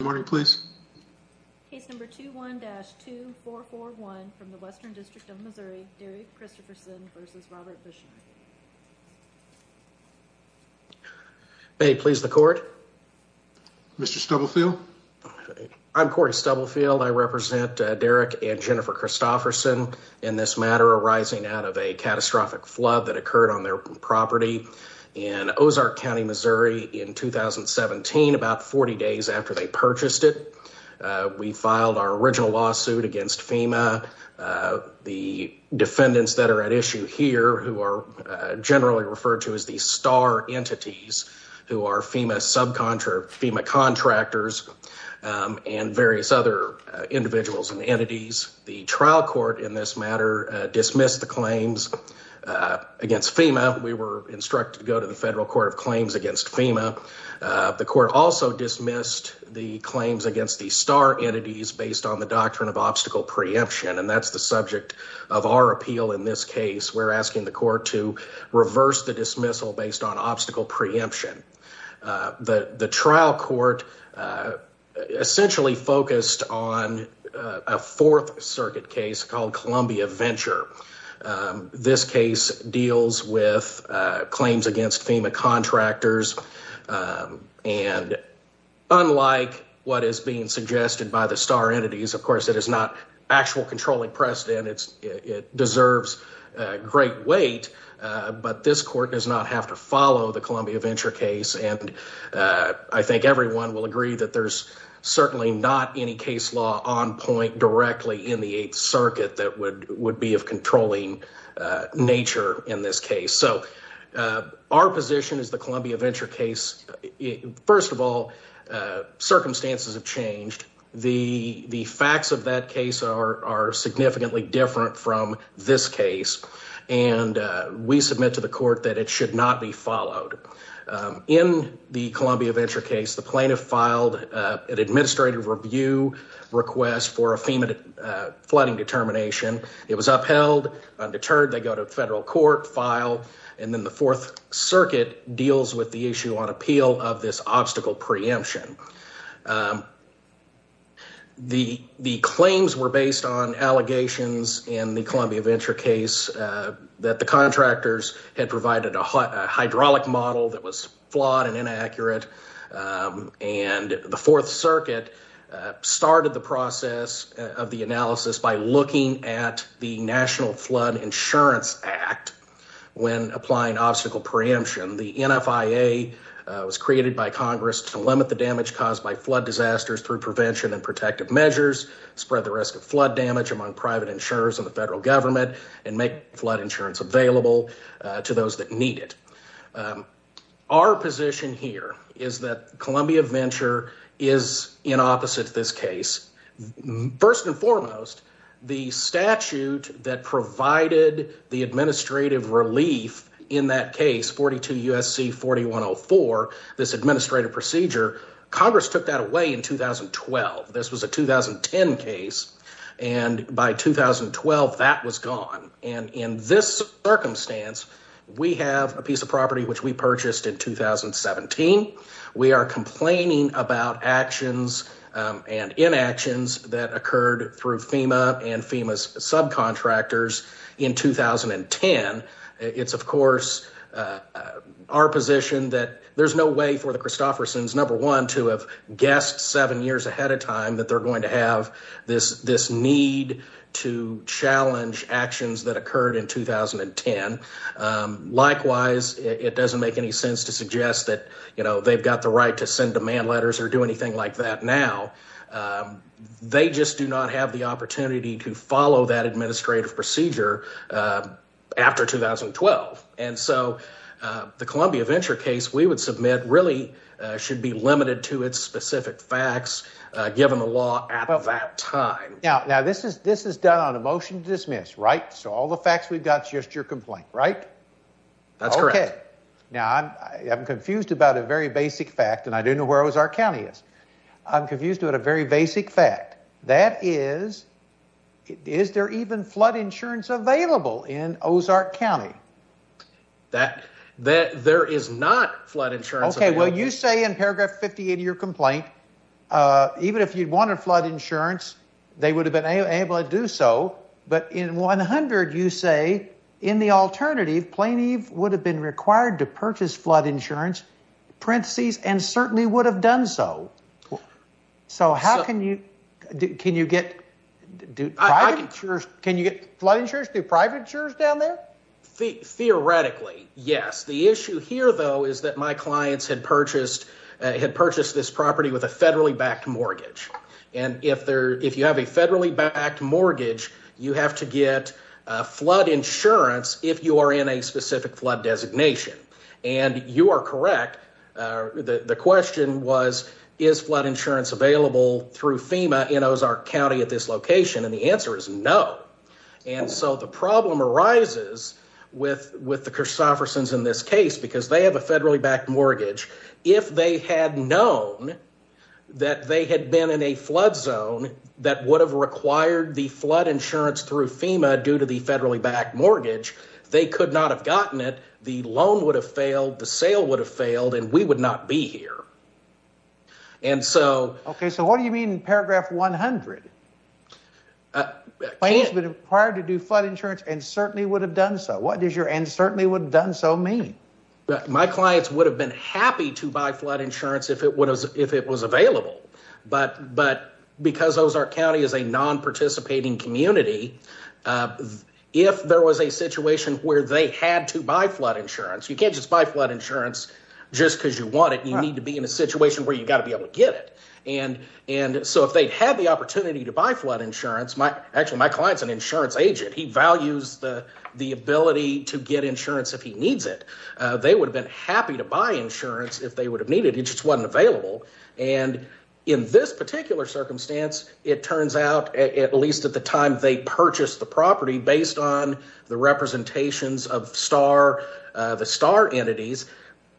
Morning, please. Case number 21-2441 from the Western District of Missouri, Derrick Christopherson v. Robert Bushner. May it please the court. Mr. Stubblefield. I'm Corey Stubblefield. I represent Derrick and Jennifer Christopherson in this matter arising out of a catastrophic flood that occurred on their property in Ozark County, Missouri, in 2017, about 40 days after they purchased it. We filed our original lawsuit against FEMA. The defendants that are at issue here, who are generally referred to as the star entities, who are FEMA subcontractors, FEMA contractors, and various other individuals and entities, the trial court in this matter dismissed the claims against FEMA. We were instructed to go to the Federal Court of Claims against FEMA. The court also dismissed the claims against the star entities based on the doctrine of obstacle preemption. And that's the subject of our appeal. In this case, we're asking the court to reverse the dismissal based on obstacle preemption. The trial court essentially focused on a Fourth Circuit case called Columbia Venture. This case deals with claims against FEMA contractors. And unlike what is being suggested by the star entities, of course, it is not actual controlling precedent. It's it deserves great weight, but this court does not have to follow the Columbia Venture case. And I think everyone will agree that there's certainly not any case law on point directly in the Eighth Circuit that would be of controlling nature in this case. So our position is the Columbia Venture case. First of all, circumstances have changed. The facts of that case are significantly different from this case. And we submit to the court that it should not be followed. In the Columbia Venture case, the plaintiff filed an administrative review request for a FEMA flooding determination. It was upheld, undeterred. They go to federal court, file, and then the Fourth Circuit deals with the issue on appeal of this obstacle preemption. The claims were based on allegations in the Columbia Venture case that the contractors had provided a hydraulic model that was flawed and inaccurate. And the Fourth Circuit started the process of the analysis by looking at the National Flood Insurance Act when applying obstacle preemption. The NFIA was created by Congress to limit the damage caused by flood disasters through prevention and protective measures, spread the risk of flood damage among private insurers and the federal government, and make flood insurance available to those that need it. Our position here is that Columbia Venture is in opposite to this case. First and foremost, the statute that provided the administrative relief in that case, 42 U.S.C. 4104, this administrative procedure, Congress took that away in 2012. This was a 2010 case, and by 2012, that was gone. And in this circumstance, we have a piece of property which we purchased in 2017. We are complaining about actions and inactions that occurred through FEMA and FEMA's subcontractors in 2010. It's, of course, our position that there's no way for the Christoffersons, number one, to have guessed seven years ahead of time that they're going to have this need to challenge actions that occurred in 2010. Likewise, it doesn't make any sense to suggest that they've got the right to send demand letters or do anything like that now. They just do not have the opportunity to follow that administrative procedure after 2012. And so the Columbia Venture case we would submit really should be limited to its specific facts given the law at that time. Now, this is done on a motion to dismiss, right? So all the facts we've got is just your complaint, right? That's correct. Okay. Now, I'm confused about a very basic fact, and I don't know where Ozark County is. I'm confused about a very basic fact. That is, is there even flood insurance available in Ozark County? There is not flood insurance available. Okay. Well, you say in paragraph 58 of your complaint, even if you'd wanted flood insurance, they would have been able to do so. But in 100, you say, in the alternative, plaintiff would have been required to purchase flood insurance, parentheses, and certainly would have done so. So how can you, can you get, do private insurers, can you get flood insurers, do private insurers down there? Theoretically, yes. The issue here, though, is that my clients had purchased, had purchased this property with a federally backed mortgage. And if there, if you have a federally backed mortgage, you have to get flood insurance if you are in a specific flood designation. And you are correct. The question was, is flood insurance available through FEMA in Ozark County at this location? And the answer is no. And so the problem arises with, with the Christoffersons in this case, because they have a federally backed mortgage. If they had known that they had been in a flood zone that would have required the flood insurance through FEMA due to the federally backed mortgage, they could not have gotten it. The loan would have failed, the sale would have failed, and we would not be here. And so. Okay, so what do you mean in paragraph 100? Clients would have been required to do flood insurance and certainly would have done so. What does your and certainly would have done so mean? My clients would have been happy to buy flood insurance if it was available. But because Ozark County is a non-participating community, if there was a situation where they had to buy flood insurance, you can't just buy flood insurance just because you want it. You need to be in a situation where you've got to be able to get it. And and so if they'd had the opportunity to buy flood insurance, my actually my client's an insurance agent. He values the the ability to get insurance if he needs it. They would have been happy to buy insurance if they would have needed. It just wasn't available. And in this particular circumstance, it turns out, at least at the time they purchased the property based on the representations of star, the star entities.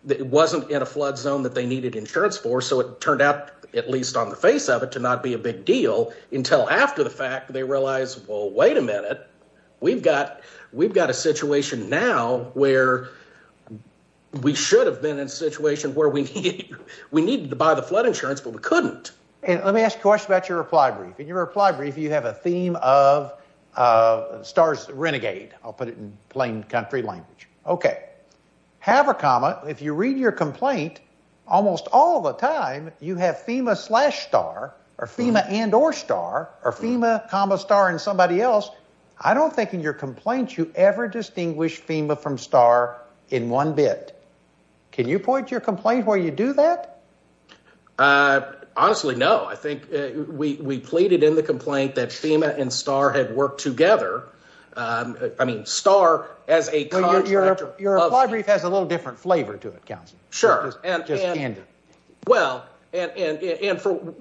It wasn't in a flood zone that they needed insurance for. So it turned out, at least on the face of it, to not be a big deal until after the fact. They realize, well, wait a minute. We've got we've got a situation now where we should have been in a situation where we we needed to buy the flood insurance, but we couldn't. And let me ask you a question about your reply brief. In your reply brief, you have a theme of stars renegade. I'll put it in plain country language. OK, have a comma. Now, if you read your complaint almost all the time, you have FEMA slash star or FEMA and or star or FEMA comma star and somebody else. I don't think in your complaints you ever distinguish FEMA from star in one bit. Can you point your complaint where you do that? Honestly, no. I think we pleaded in the complaint that FEMA and star had worked together. I mean, star as a your your reply brief has a little different flavor to it counts. Sure. And well, and for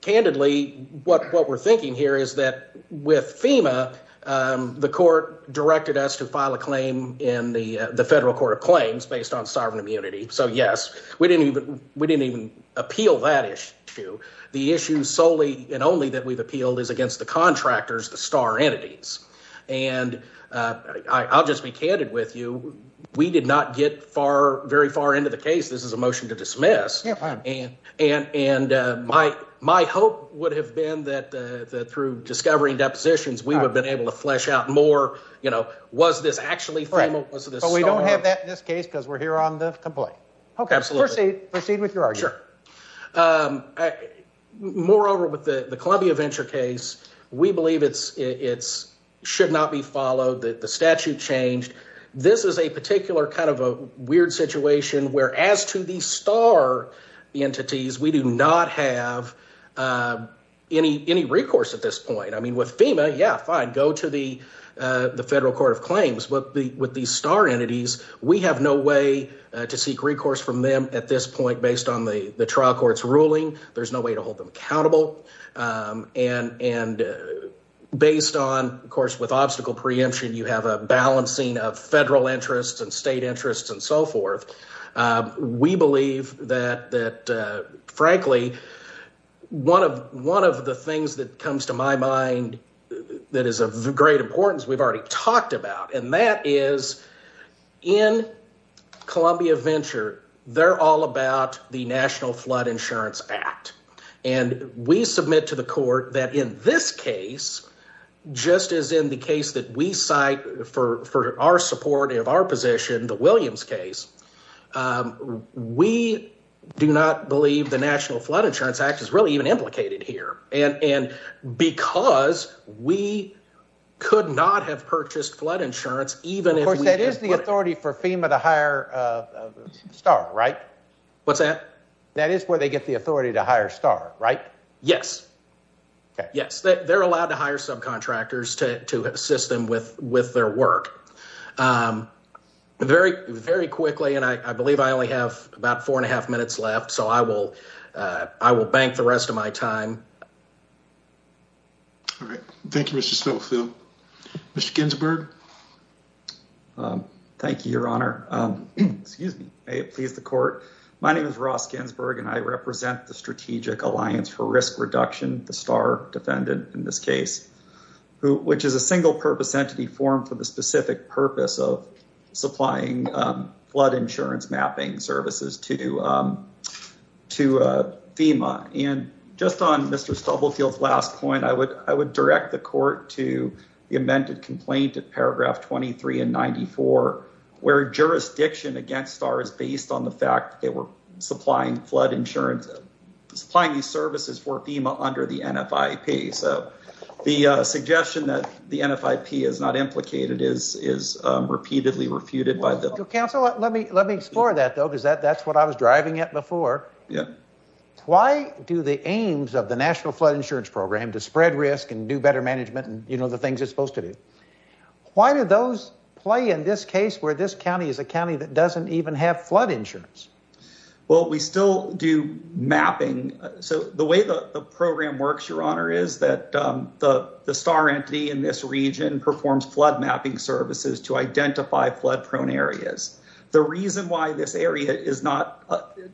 candidly, what what we're thinking here is that with FEMA, the court directed us to file a claim in the federal court of claims based on sovereign immunity. So, yes, we didn't even we didn't even appeal that issue. The issue solely and only that we've appealed is against the contractors, the star entities. And I'll just be candid with you. We did not get far, very far into the case. This is a motion to dismiss. And and and my my hope would have been that through discovering depositions, we would have been able to flesh out more. You know, was this actually FEMA? Was this? We don't have that in this case because we're here on the complaint. OK, absolutely. Proceed with your argument. Moreover, with the Columbia Venture case, we believe it's it's should not be followed that the statute changed. This is a particular kind of a weird situation where as to the star entities, we do not have any any recourse at this point. I mean, with FEMA, yeah, fine. Go to the the federal court of claims. But with these star entities, we have no way to seek recourse from them at this point. Based on the trial court's ruling, there's no way to hold them accountable. And and based on, of course, with obstacle preemption, you have a balancing of federal interests and state interests and so forth. We believe that that, frankly, one of one of the things that comes to my mind that is of great importance we've already talked about, and that is in Columbia Venture. They're all about the National Flood Insurance Act. And we submit to the court that in this case, just as in the case that we cite for for our support of our position, the Williams case, we do not believe the National Flood Insurance Act is really even implicated here. And and because we could not have purchased flood insurance, even if that is the authority for FEMA to hire a star, right? What's that? That is where they get the authority to hire star, right? Yes. Yes. They're allowed to hire subcontractors to to assist them with with their work very, very quickly. And I believe I only have about four and a half minutes left, so I will I will bank the rest of my time. All right. Thank you, Mr. Snowfield, Mr. Ginsburg. Thank you, Your Honor. Excuse me. My name is Ross Ginsburg, and I represent the Strategic Alliance for Risk Reduction. The star defendant in this case, which is a single purpose entity formed for the specific purpose of supplying flood insurance mapping services to to FEMA. And just on Mr. Stubblefield's last point, I would I would direct the court to the amended complaint to paragraph twenty three and ninety four, where jurisdiction against star is based on the fact that we're supplying flood insurance, supplying these services for FEMA under the NFP. So the suggestion that the NFP is not implicated is is repeatedly refuted by the council. Let me let me explore that, though, because that that's what I was driving at before. Yeah. Why do the aims of the National Flood Insurance Program to spread risk and do better management and, you know, the things it's supposed to do? Why do those play in this case where this county is a county that doesn't even have flood insurance? Well, we still do mapping. So the way the program works, Your Honor, is that the star entity in this region performs flood mapping services to identify flood prone areas. The reason why this area is not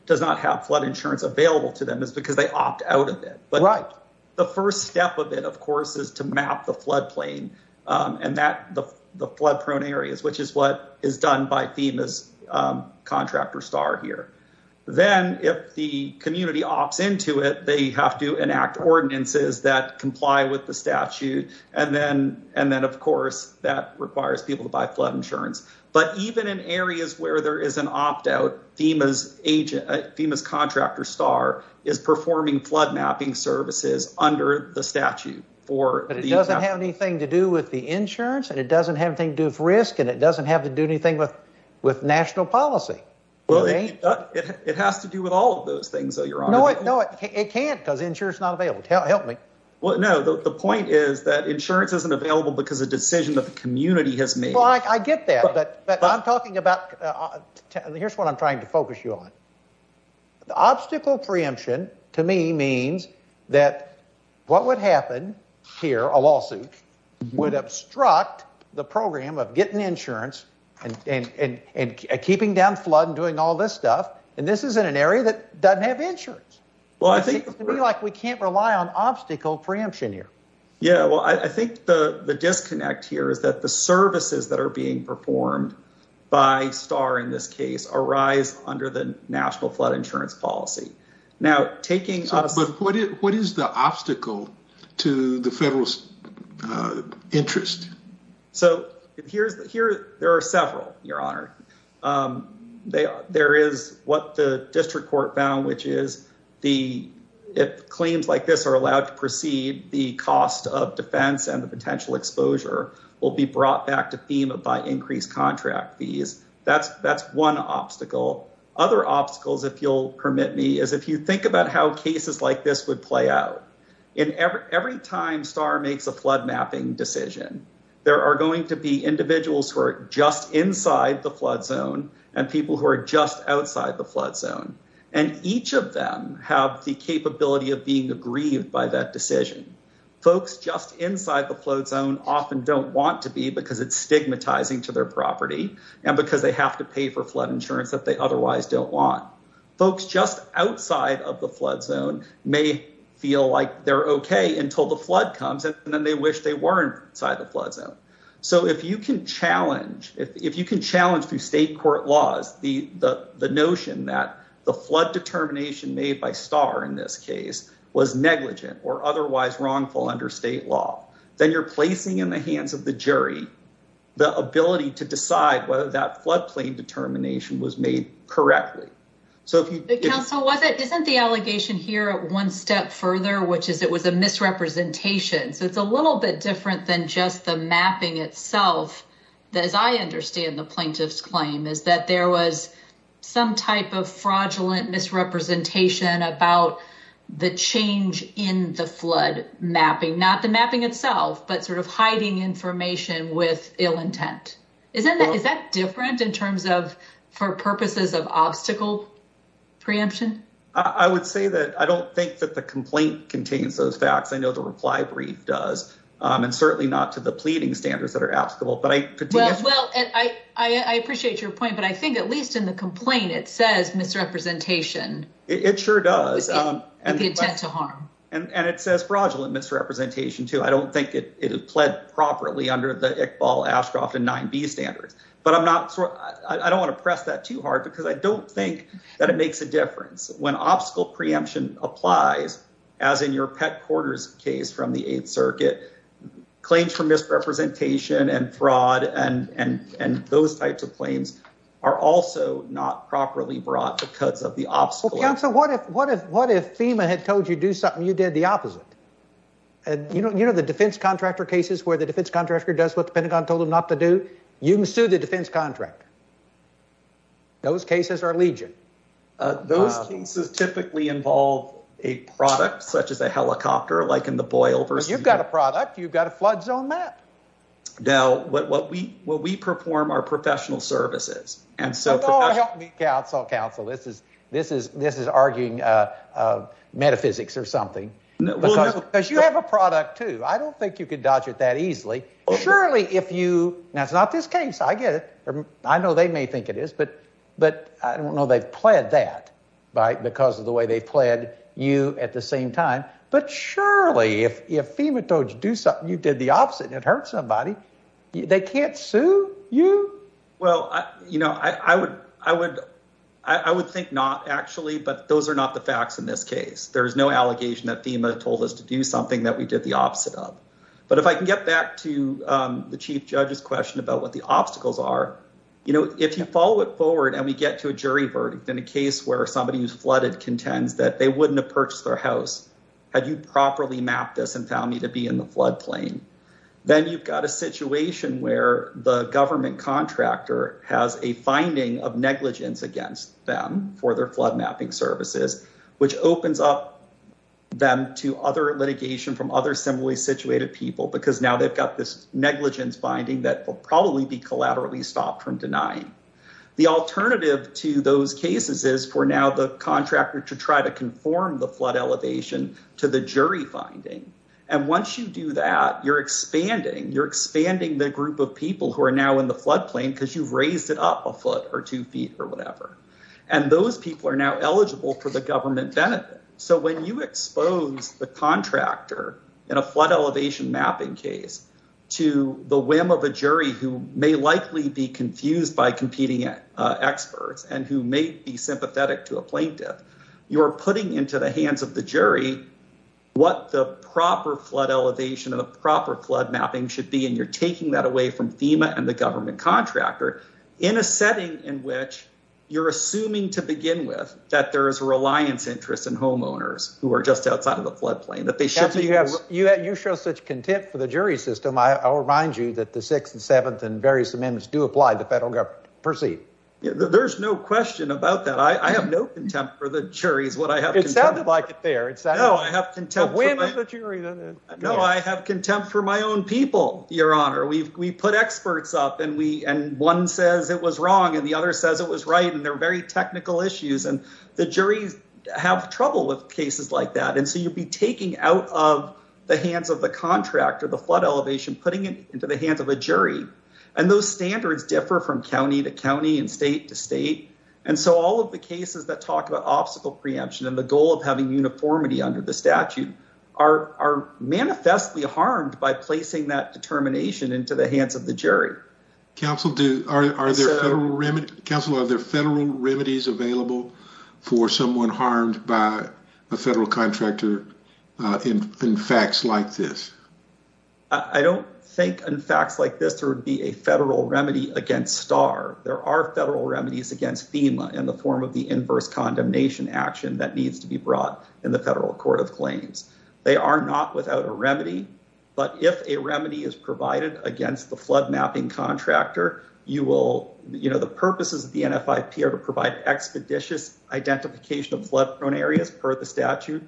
does not have flood insurance available to them is because they opt out of it. But the first step of it, of course, is to map the flood plain and that the flood prone areas, which is what is done by FEMA's contractor star here. Then if the community opts into it, they have to enact ordinances that comply with the statute. And then and then, of course, that requires people to buy flood insurance. But even in areas where there is an opt out, FEMA's agent, FEMA's contractor star is performing flood mapping services under the statute for. But it doesn't have anything to do with the insurance and it doesn't have anything to do with risk and it doesn't have to do anything with with national policy. Well, it has to do with all of those things. So you're right. No, it can't because insurance not available. Well, no, the point is that insurance isn't available because a decision that the community has made. I get that. But I'm talking about here's what I'm trying to focus you on. The obstacle preemption to me means that what would happen here, a lawsuit would obstruct the program of getting insurance and keeping down flood and doing all this stuff. And this is in an area that doesn't have insurance. Well, I think like we can't rely on obstacle preemption here. Yeah, well, I think the the disconnect here is that the services that are being performed by star in this case arise under the national flood insurance policy. Now, taking what is the obstacle to the federal interest? So here's the here. There are several. There is what the district court found, which is the claims like this are allowed to proceed. The cost of defense and the potential exposure will be brought back to FEMA by increased contract fees. That's that's one obstacle. Other obstacles, if you'll permit me, is if you think about how cases like this would play out in every time star makes a flood mapping decision. There are going to be individuals who are just inside the flood zone and people who are just outside the flood zone. And each of them have the capability of being aggrieved by that decision. Folks just inside the flood zone often don't want to be because it's stigmatizing to their property and because they have to pay for flood insurance that they otherwise don't want. Folks just outside of the flood zone may feel like they're OK until the flood comes and then they wish they weren't inside the flood zone. So if you can challenge if you can challenge through state court laws, the notion that the flood determination made by star in this case was negligent or otherwise wrongful under state law. Then you're placing in the hands of the jury the ability to decide whether that floodplain determination was made correctly. So wasn't the allegation here one step further, which is it was a misrepresentation. So it's a little bit different than just the mapping itself. As I understand the plaintiff's claim is that there was some type of fraudulent misrepresentation about the change in the flood mapping, not the mapping itself, but sort of hiding information with ill intent. Is that is that different in terms of for purposes of obstacle preemption? I would say that I don't think that the complaint contains those facts. I know the reply brief does, and certainly not to the pleading standards that are applicable. But I could. Well, I appreciate your point. But I think at least in the complaint, it says misrepresentation. It sure does. And the intent to harm. And it says fraudulent misrepresentation, too. I don't think it is pled properly under the Iqbal Ashcroft and 9B standards. But I'm not. I don't want to press that too hard because I don't think that it makes a difference when obstacle preemption applies, as in your pet quarters case from the 8th Circuit claims for misrepresentation and fraud. And and and those types of claims are also not properly brought because of the obstacle. So what if what if what if FEMA had told you do something you did the opposite? And, you know, you know, the defense contractor cases where the defense contractor does what the Pentagon told him not to do. You can sue the defense contractor. Those cases are legion. Those cases typically involve a product such as a helicopter, like in the boil. You've got a product. You've got a flood zone map. Now, what we what we perform our professional services. And so counsel counsel, this is this is this is arguing metaphysics or something because you have a product, too. I don't think you could dodge it that easily. Surely if you. Now, it's not this case. I get it. I know they may think it is. But but I don't know. They've played that because of the way they played you at the same time. But surely if FEMA don't do something, you did the opposite. It hurt somebody. They can't sue you. Well, you know, I would I would I would think not actually. But those are not the facts in this case. There is no allegation that FEMA told us to do something that we did the opposite of. But if I can get back to the chief judge's question about what the obstacles are, you know, if you follow it forward and we get to a jury verdict in a case where somebody who's flooded contends that they wouldn't have purchased their house. Had you properly map this and found me to be in the floodplain, then you've got a situation where the government contractor has a finding of negligence against them for their flood mapping services, which opens up. Them to other litigation from other similarly situated people, because now they've got this negligence finding that will probably be collaterally stopped from denying. The alternative to those cases is for now the contractor to try to conform the flood elevation to the jury finding. And once you do that, you're expanding, you're expanding the group of people who are now in the floodplain because you've raised it up a foot or two feet or whatever. And those people are now eligible for the government benefit. So when you expose the contractor in a flood elevation mapping case to the whim of a jury who may likely be confused by competing experts and who may be sympathetic to a plaintiff. You are putting into the hands of the jury what the proper flood elevation of the proper flood mapping should be. And you're taking that away from FEMA and the government contractor in a setting in which you're assuming to begin with that there is a reliance interest in homeowners who are just outside of the floodplain that they should be. You show such contempt for the jury system. I'll remind you that the sixth and seventh and various amendments do apply. The federal government proceed. There's no question about that. I have no contempt for the jury is what I have. It sounded like it there. It's that. No, I have contempt for the jury. No, I have contempt for my own people, Your Honor. We've we put experts up and we and one says it was wrong and the other says it was right. And they're very technical issues. And the juries have trouble with cases like that. And so you'll be taking out of the hands of the contractor, the flood elevation, putting it into the hands of a jury. And those standards differ from county to county and state to state. And so all of the cases that talk about obstacle preemption and the goal of having uniformity under the statute are manifestly harmed by placing that determination into the hands of the jury. Council, are there federal remedies available for someone harmed by a federal contractor in facts like this? I don't think in facts like this, there would be a federal remedy against star. There are federal remedies against FEMA in the form of the inverse condemnation action that needs to be brought in the federal court of claims. They are not without a remedy, but if a remedy is provided against the flood mapping contractor, you will, you know, the purposes of the N. F. I. P. R. to provide expeditious identification of flood prone areas per the statute.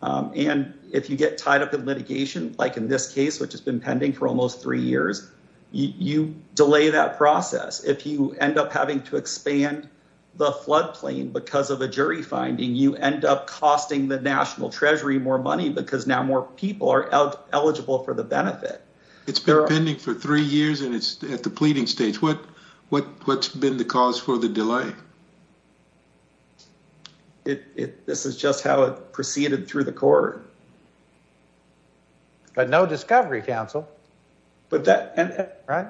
And if you get tied up in litigation, like in this case, which has been pending for almost three years, you delay that process. If you end up having to expand the floodplain because of a jury finding, you end up costing the National Treasury more money because now more people are eligible for the benefit. It's been pending for three years and it's at the pleading stage. What what what's been the cause for the delay? It this is just how it proceeded through the court. But no discovery council, but that right.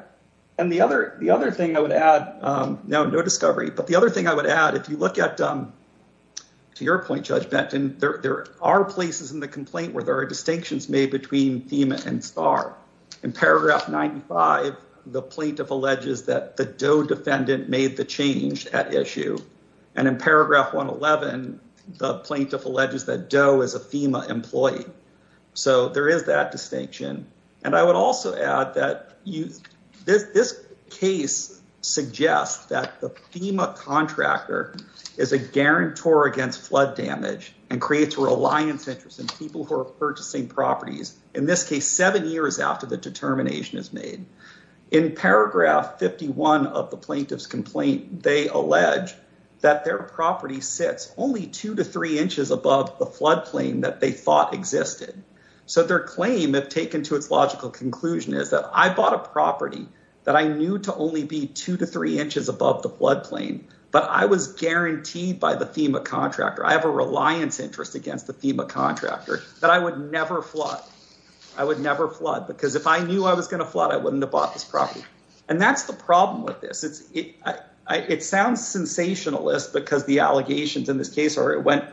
And the other the other thing I would add now, no discovery. But the other thing I would add, if you look at to your point, Judge Benton, there are places in the complaint where there are distinctions made between FEMA and star in paragraph ninety five. The plaintiff alleges that the DOE defendant made the change at issue and in paragraph one eleven, the plaintiff alleges that DOE is a FEMA employee. So there is that distinction. And I would also add that this case suggests that the FEMA contractor is a guarantor against flood damage and creates a reliance interest in people who are purchasing properties. In this case, seven years after the determination is made in paragraph fifty one of the plaintiff's complaint, they allege that their property sits only two to three inches above the floodplain that they thought existed. So their claim, if taken to its logical conclusion, is that I bought a property that I knew to only be two to three inches above the floodplain. But I was guaranteed by the FEMA contractor. I have a reliance interest against the FEMA contractor that I would never flood. I would never flood because if I knew I was going to flood, I wouldn't have bought this property. And that's the problem with this. It sounds sensationalist because the allegations in this case are it went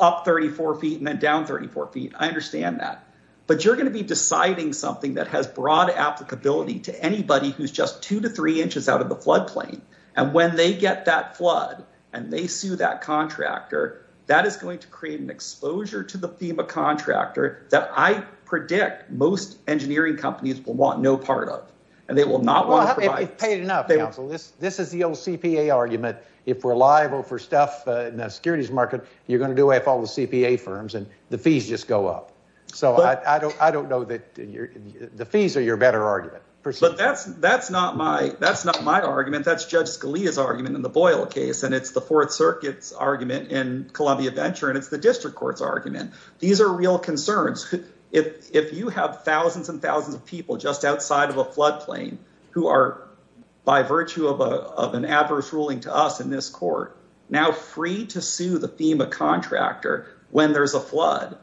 up thirty four feet and then down thirty four feet. I understand that. But you're going to be deciding something that has broad applicability to anybody who's just two to three inches out of the floodplain. And when they get that flood and they sue that contractor, that is going to create an exposure to the FEMA contractor that I predict most engineering companies will want no part of. And they will not want to provide. This is the old CPA argument. If we're liable for stuff in the securities market, you're going to do if all the CPA firms and the fees just go up. So I don't I don't know that the fees are your better argument. But that's that's not my that's not my argument. That's just Scalia's argument in the Boyle case. And it's the Fourth Circuit's argument in Columbia Venture. And it's the district court's argument. These are real concerns. If you have thousands and thousands of people just outside of a floodplain who are by virtue of an adverse ruling to us in this court now free to sue the FEMA contractor when there's a flood,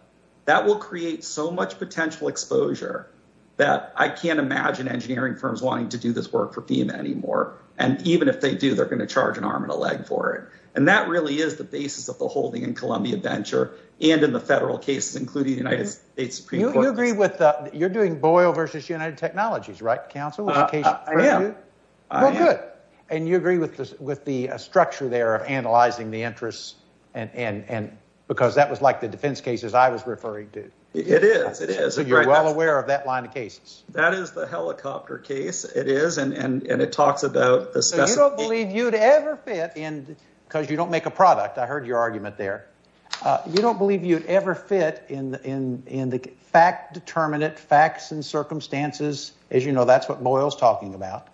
that will create so much potential exposure that I can't imagine engineering firms wanting to do this work for FEMA anymore. And even if they do, they're going to charge an arm and a leg for it. And that really is the basis of the holding in Columbia Venture and in the federal cases, including the United States Supreme Court. You agree with you're doing Boyle versus United Technologies, right, counsel? I am. I am. Well, good. And you agree with the structure there of analyzing the interests and because that was like the defense cases I was referring to. It is. It is. So you're well aware of that line of cases. That is the helicopter case. It is. And it talks about the specifics. So you don't believe you'd ever fit in because you don't make a product. I heard your argument there. You don't believe you'd ever fit in the fact determinate facts and circumstances. As you know, that's what Boyle's talking about.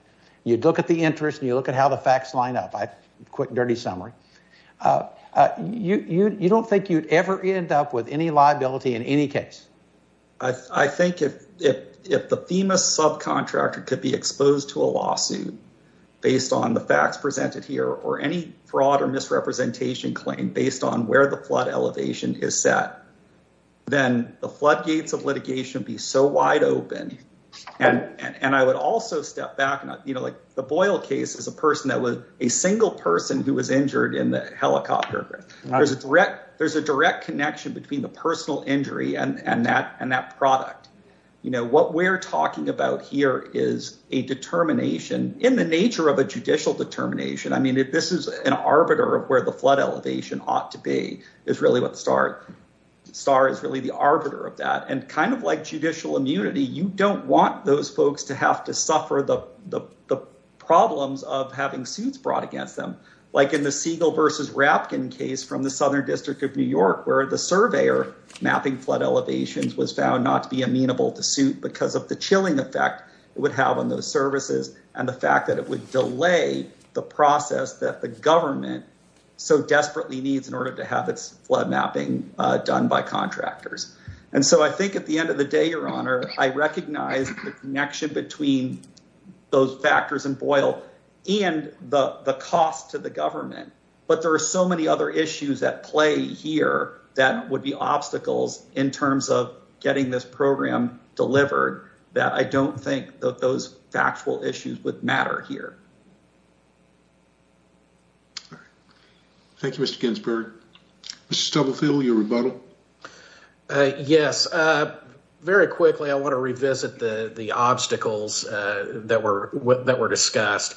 You look at the interest and you look at how the facts line up. A quick, dirty summary. You don't think you'd ever end up with any liability in any case. I think if the FEMA subcontractor could be exposed to a lawsuit based on the facts presented here or any fraud or misrepresentation claim based on where the flood elevation is set, then the floodgates of litigation would be so wide open. And I would also step back, you know, like the Boyle case is a person that was a single person who was injured in the helicopter. There's a threat. There's a direct connection between the personal injury and that and that product. You know, what we're talking about here is a determination in the nature of a judicial determination. I mean, if this is an arbiter of where the flood elevation ought to be is really what the start star is really the arbiter of that. And kind of like judicial immunity, you don't want those folks to have to suffer the problems of having suits brought against them, like in the seagull versus rapkin case from the southern district of New York, where the survey or mapping flood elevations was found not to be amenable to suit because of the chilling effect it would have on those services and the fact that it would delay the process that the government. So, I think at the end of the day, your honor, I recognize the connection between those factors and boil and the cost to the government, but there are so many other issues at play here that would be obstacles in terms of getting this program delivered that I don't think that those factual issues with matter here. Thank you, Mr. Ginsburg. Mr. Stubblefield, your rebuttal. Yes, very quickly. I want to revisit the obstacles that were that were discussed.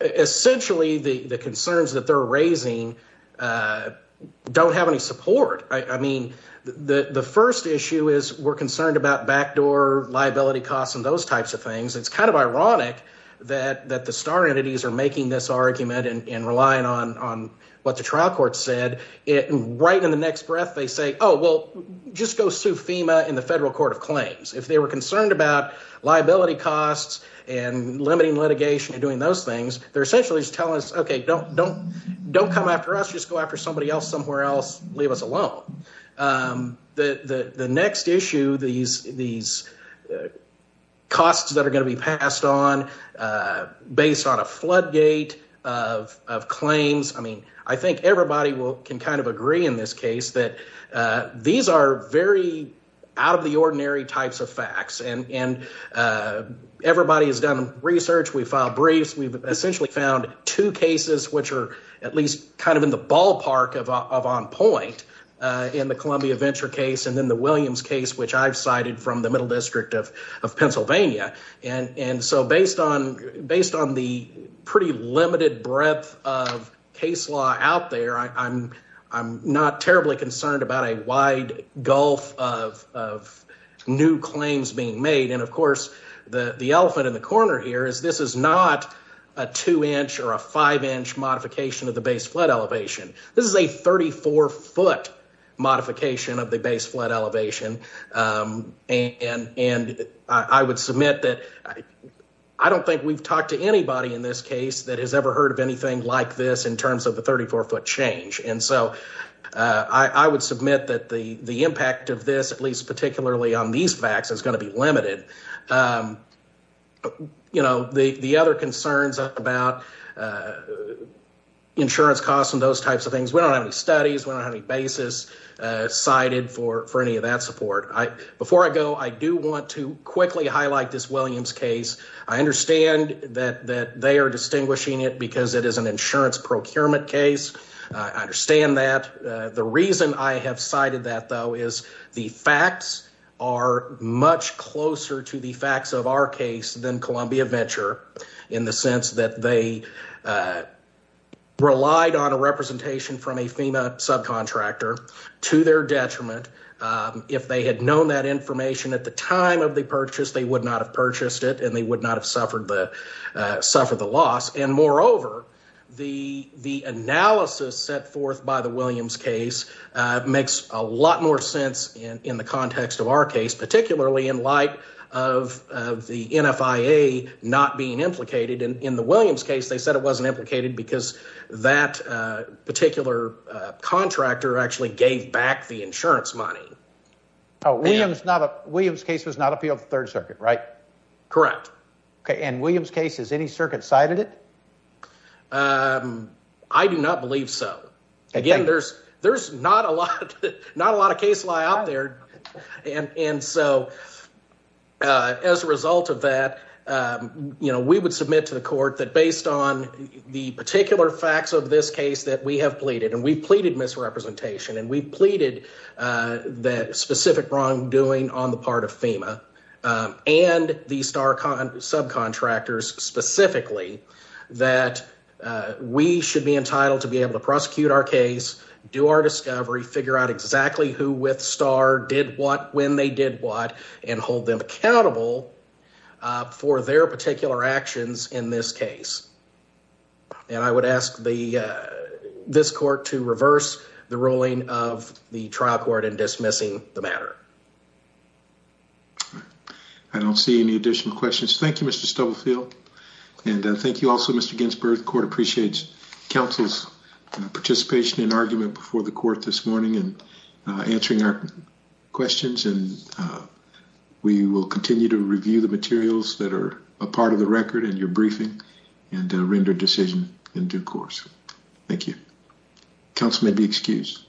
Essentially, the concerns that they're raising don't have any support. I mean, the first issue is we're concerned about backdoor liability costs and those types of things. It's kind of ironic that the star entities are making this argument and relying on what the trial court said. Right in the next breath, they say, oh, well, just go sue FEMA and the federal court of claims. If they were concerned about liability costs and limiting litigation and doing those things, they're essentially just telling us, OK, don't come after us. Just go after somebody else somewhere else. Leave us alone. The next issue, these these costs that are going to be passed on based on a floodgate of claims. I mean, I think everybody will can kind of agree in this case that these are very out of the ordinary types of facts. And everybody has done research. We filed briefs. We've essentially found two cases which are at least kind of in the ballpark of on point in the Columbia Venture case. And then the Williams case, which I've cited from the Middle District of Pennsylvania. And so based on based on the pretty limited breadth of case law out there, I'm I'm not terribly concerned about a wide gulf of of new claims being made. And, of course, the elephant in the corner here is this is not a two inch or a five inch modification of the base flood elevation. This is a 34 foot modification of the base flood elevation. And and I would submit that I don't think we've talked to anybody in this case that has ever heard of anything like this in terms of the 34 foot change. And so I would submit that the the impact of this, at least particularly on these facts, is going to be limited. You know, the other concerns about insurance costs and those types of things. We don't have any studies. We don't have any basis cited for for any of that support. I before I go, I do want to quickly highlight this Williams case. I understand that that they are distinguishing it because it is an insurance procurement case. I understand that the reason I have cited that, though, is the facts are much closer to the facts of our case than Columbia Venture in the sense that they relied on a representation from a FEMA subcontractor to their detriment. If they had known that information at the time of the purchase, they would not have purchased it and they would not have suffered the suffer the loss. And moreover, the the analysis set forth by the Williams case makes a lot more sense in the context of our case, particularly in light of the NFIA not being implicated in the Williams case. They said it wasn't implicated because that particular contractor actually gave back the insurance money. It was not a Williams case was not appeal of the Third Circuit, right? Correct. And Williams case is any circuit cited it. I do not believe so. Again, there's there's not a lot, not a lot of case lie out there. And so as a result of that, you know, we would submit to the court that based on the particular facts of this case that we have pleaded and we pleaded misrepresentation and we pleaded that specific wrongdoing on the part of FEMA and the star subcontractors specifically that we should be entitled to be able to prosecute our case. Do our discovery, figure out exactly who with star did what, when they did what and hold them accountable for their particular actions in this case. And I would ask the this court to reverse the ruling of the trial court in dismissing the matter. I don't see any additional questions. Thank you, Mr. Stubblefield. And thank you also, Mr. Ginsburg. Court appreciates counsel's participation in argument before the court this morning and answering our questions. And we will continue to review the materials that are a part of the record and your briefing and render decision in due course. Thank you. Council may be excused.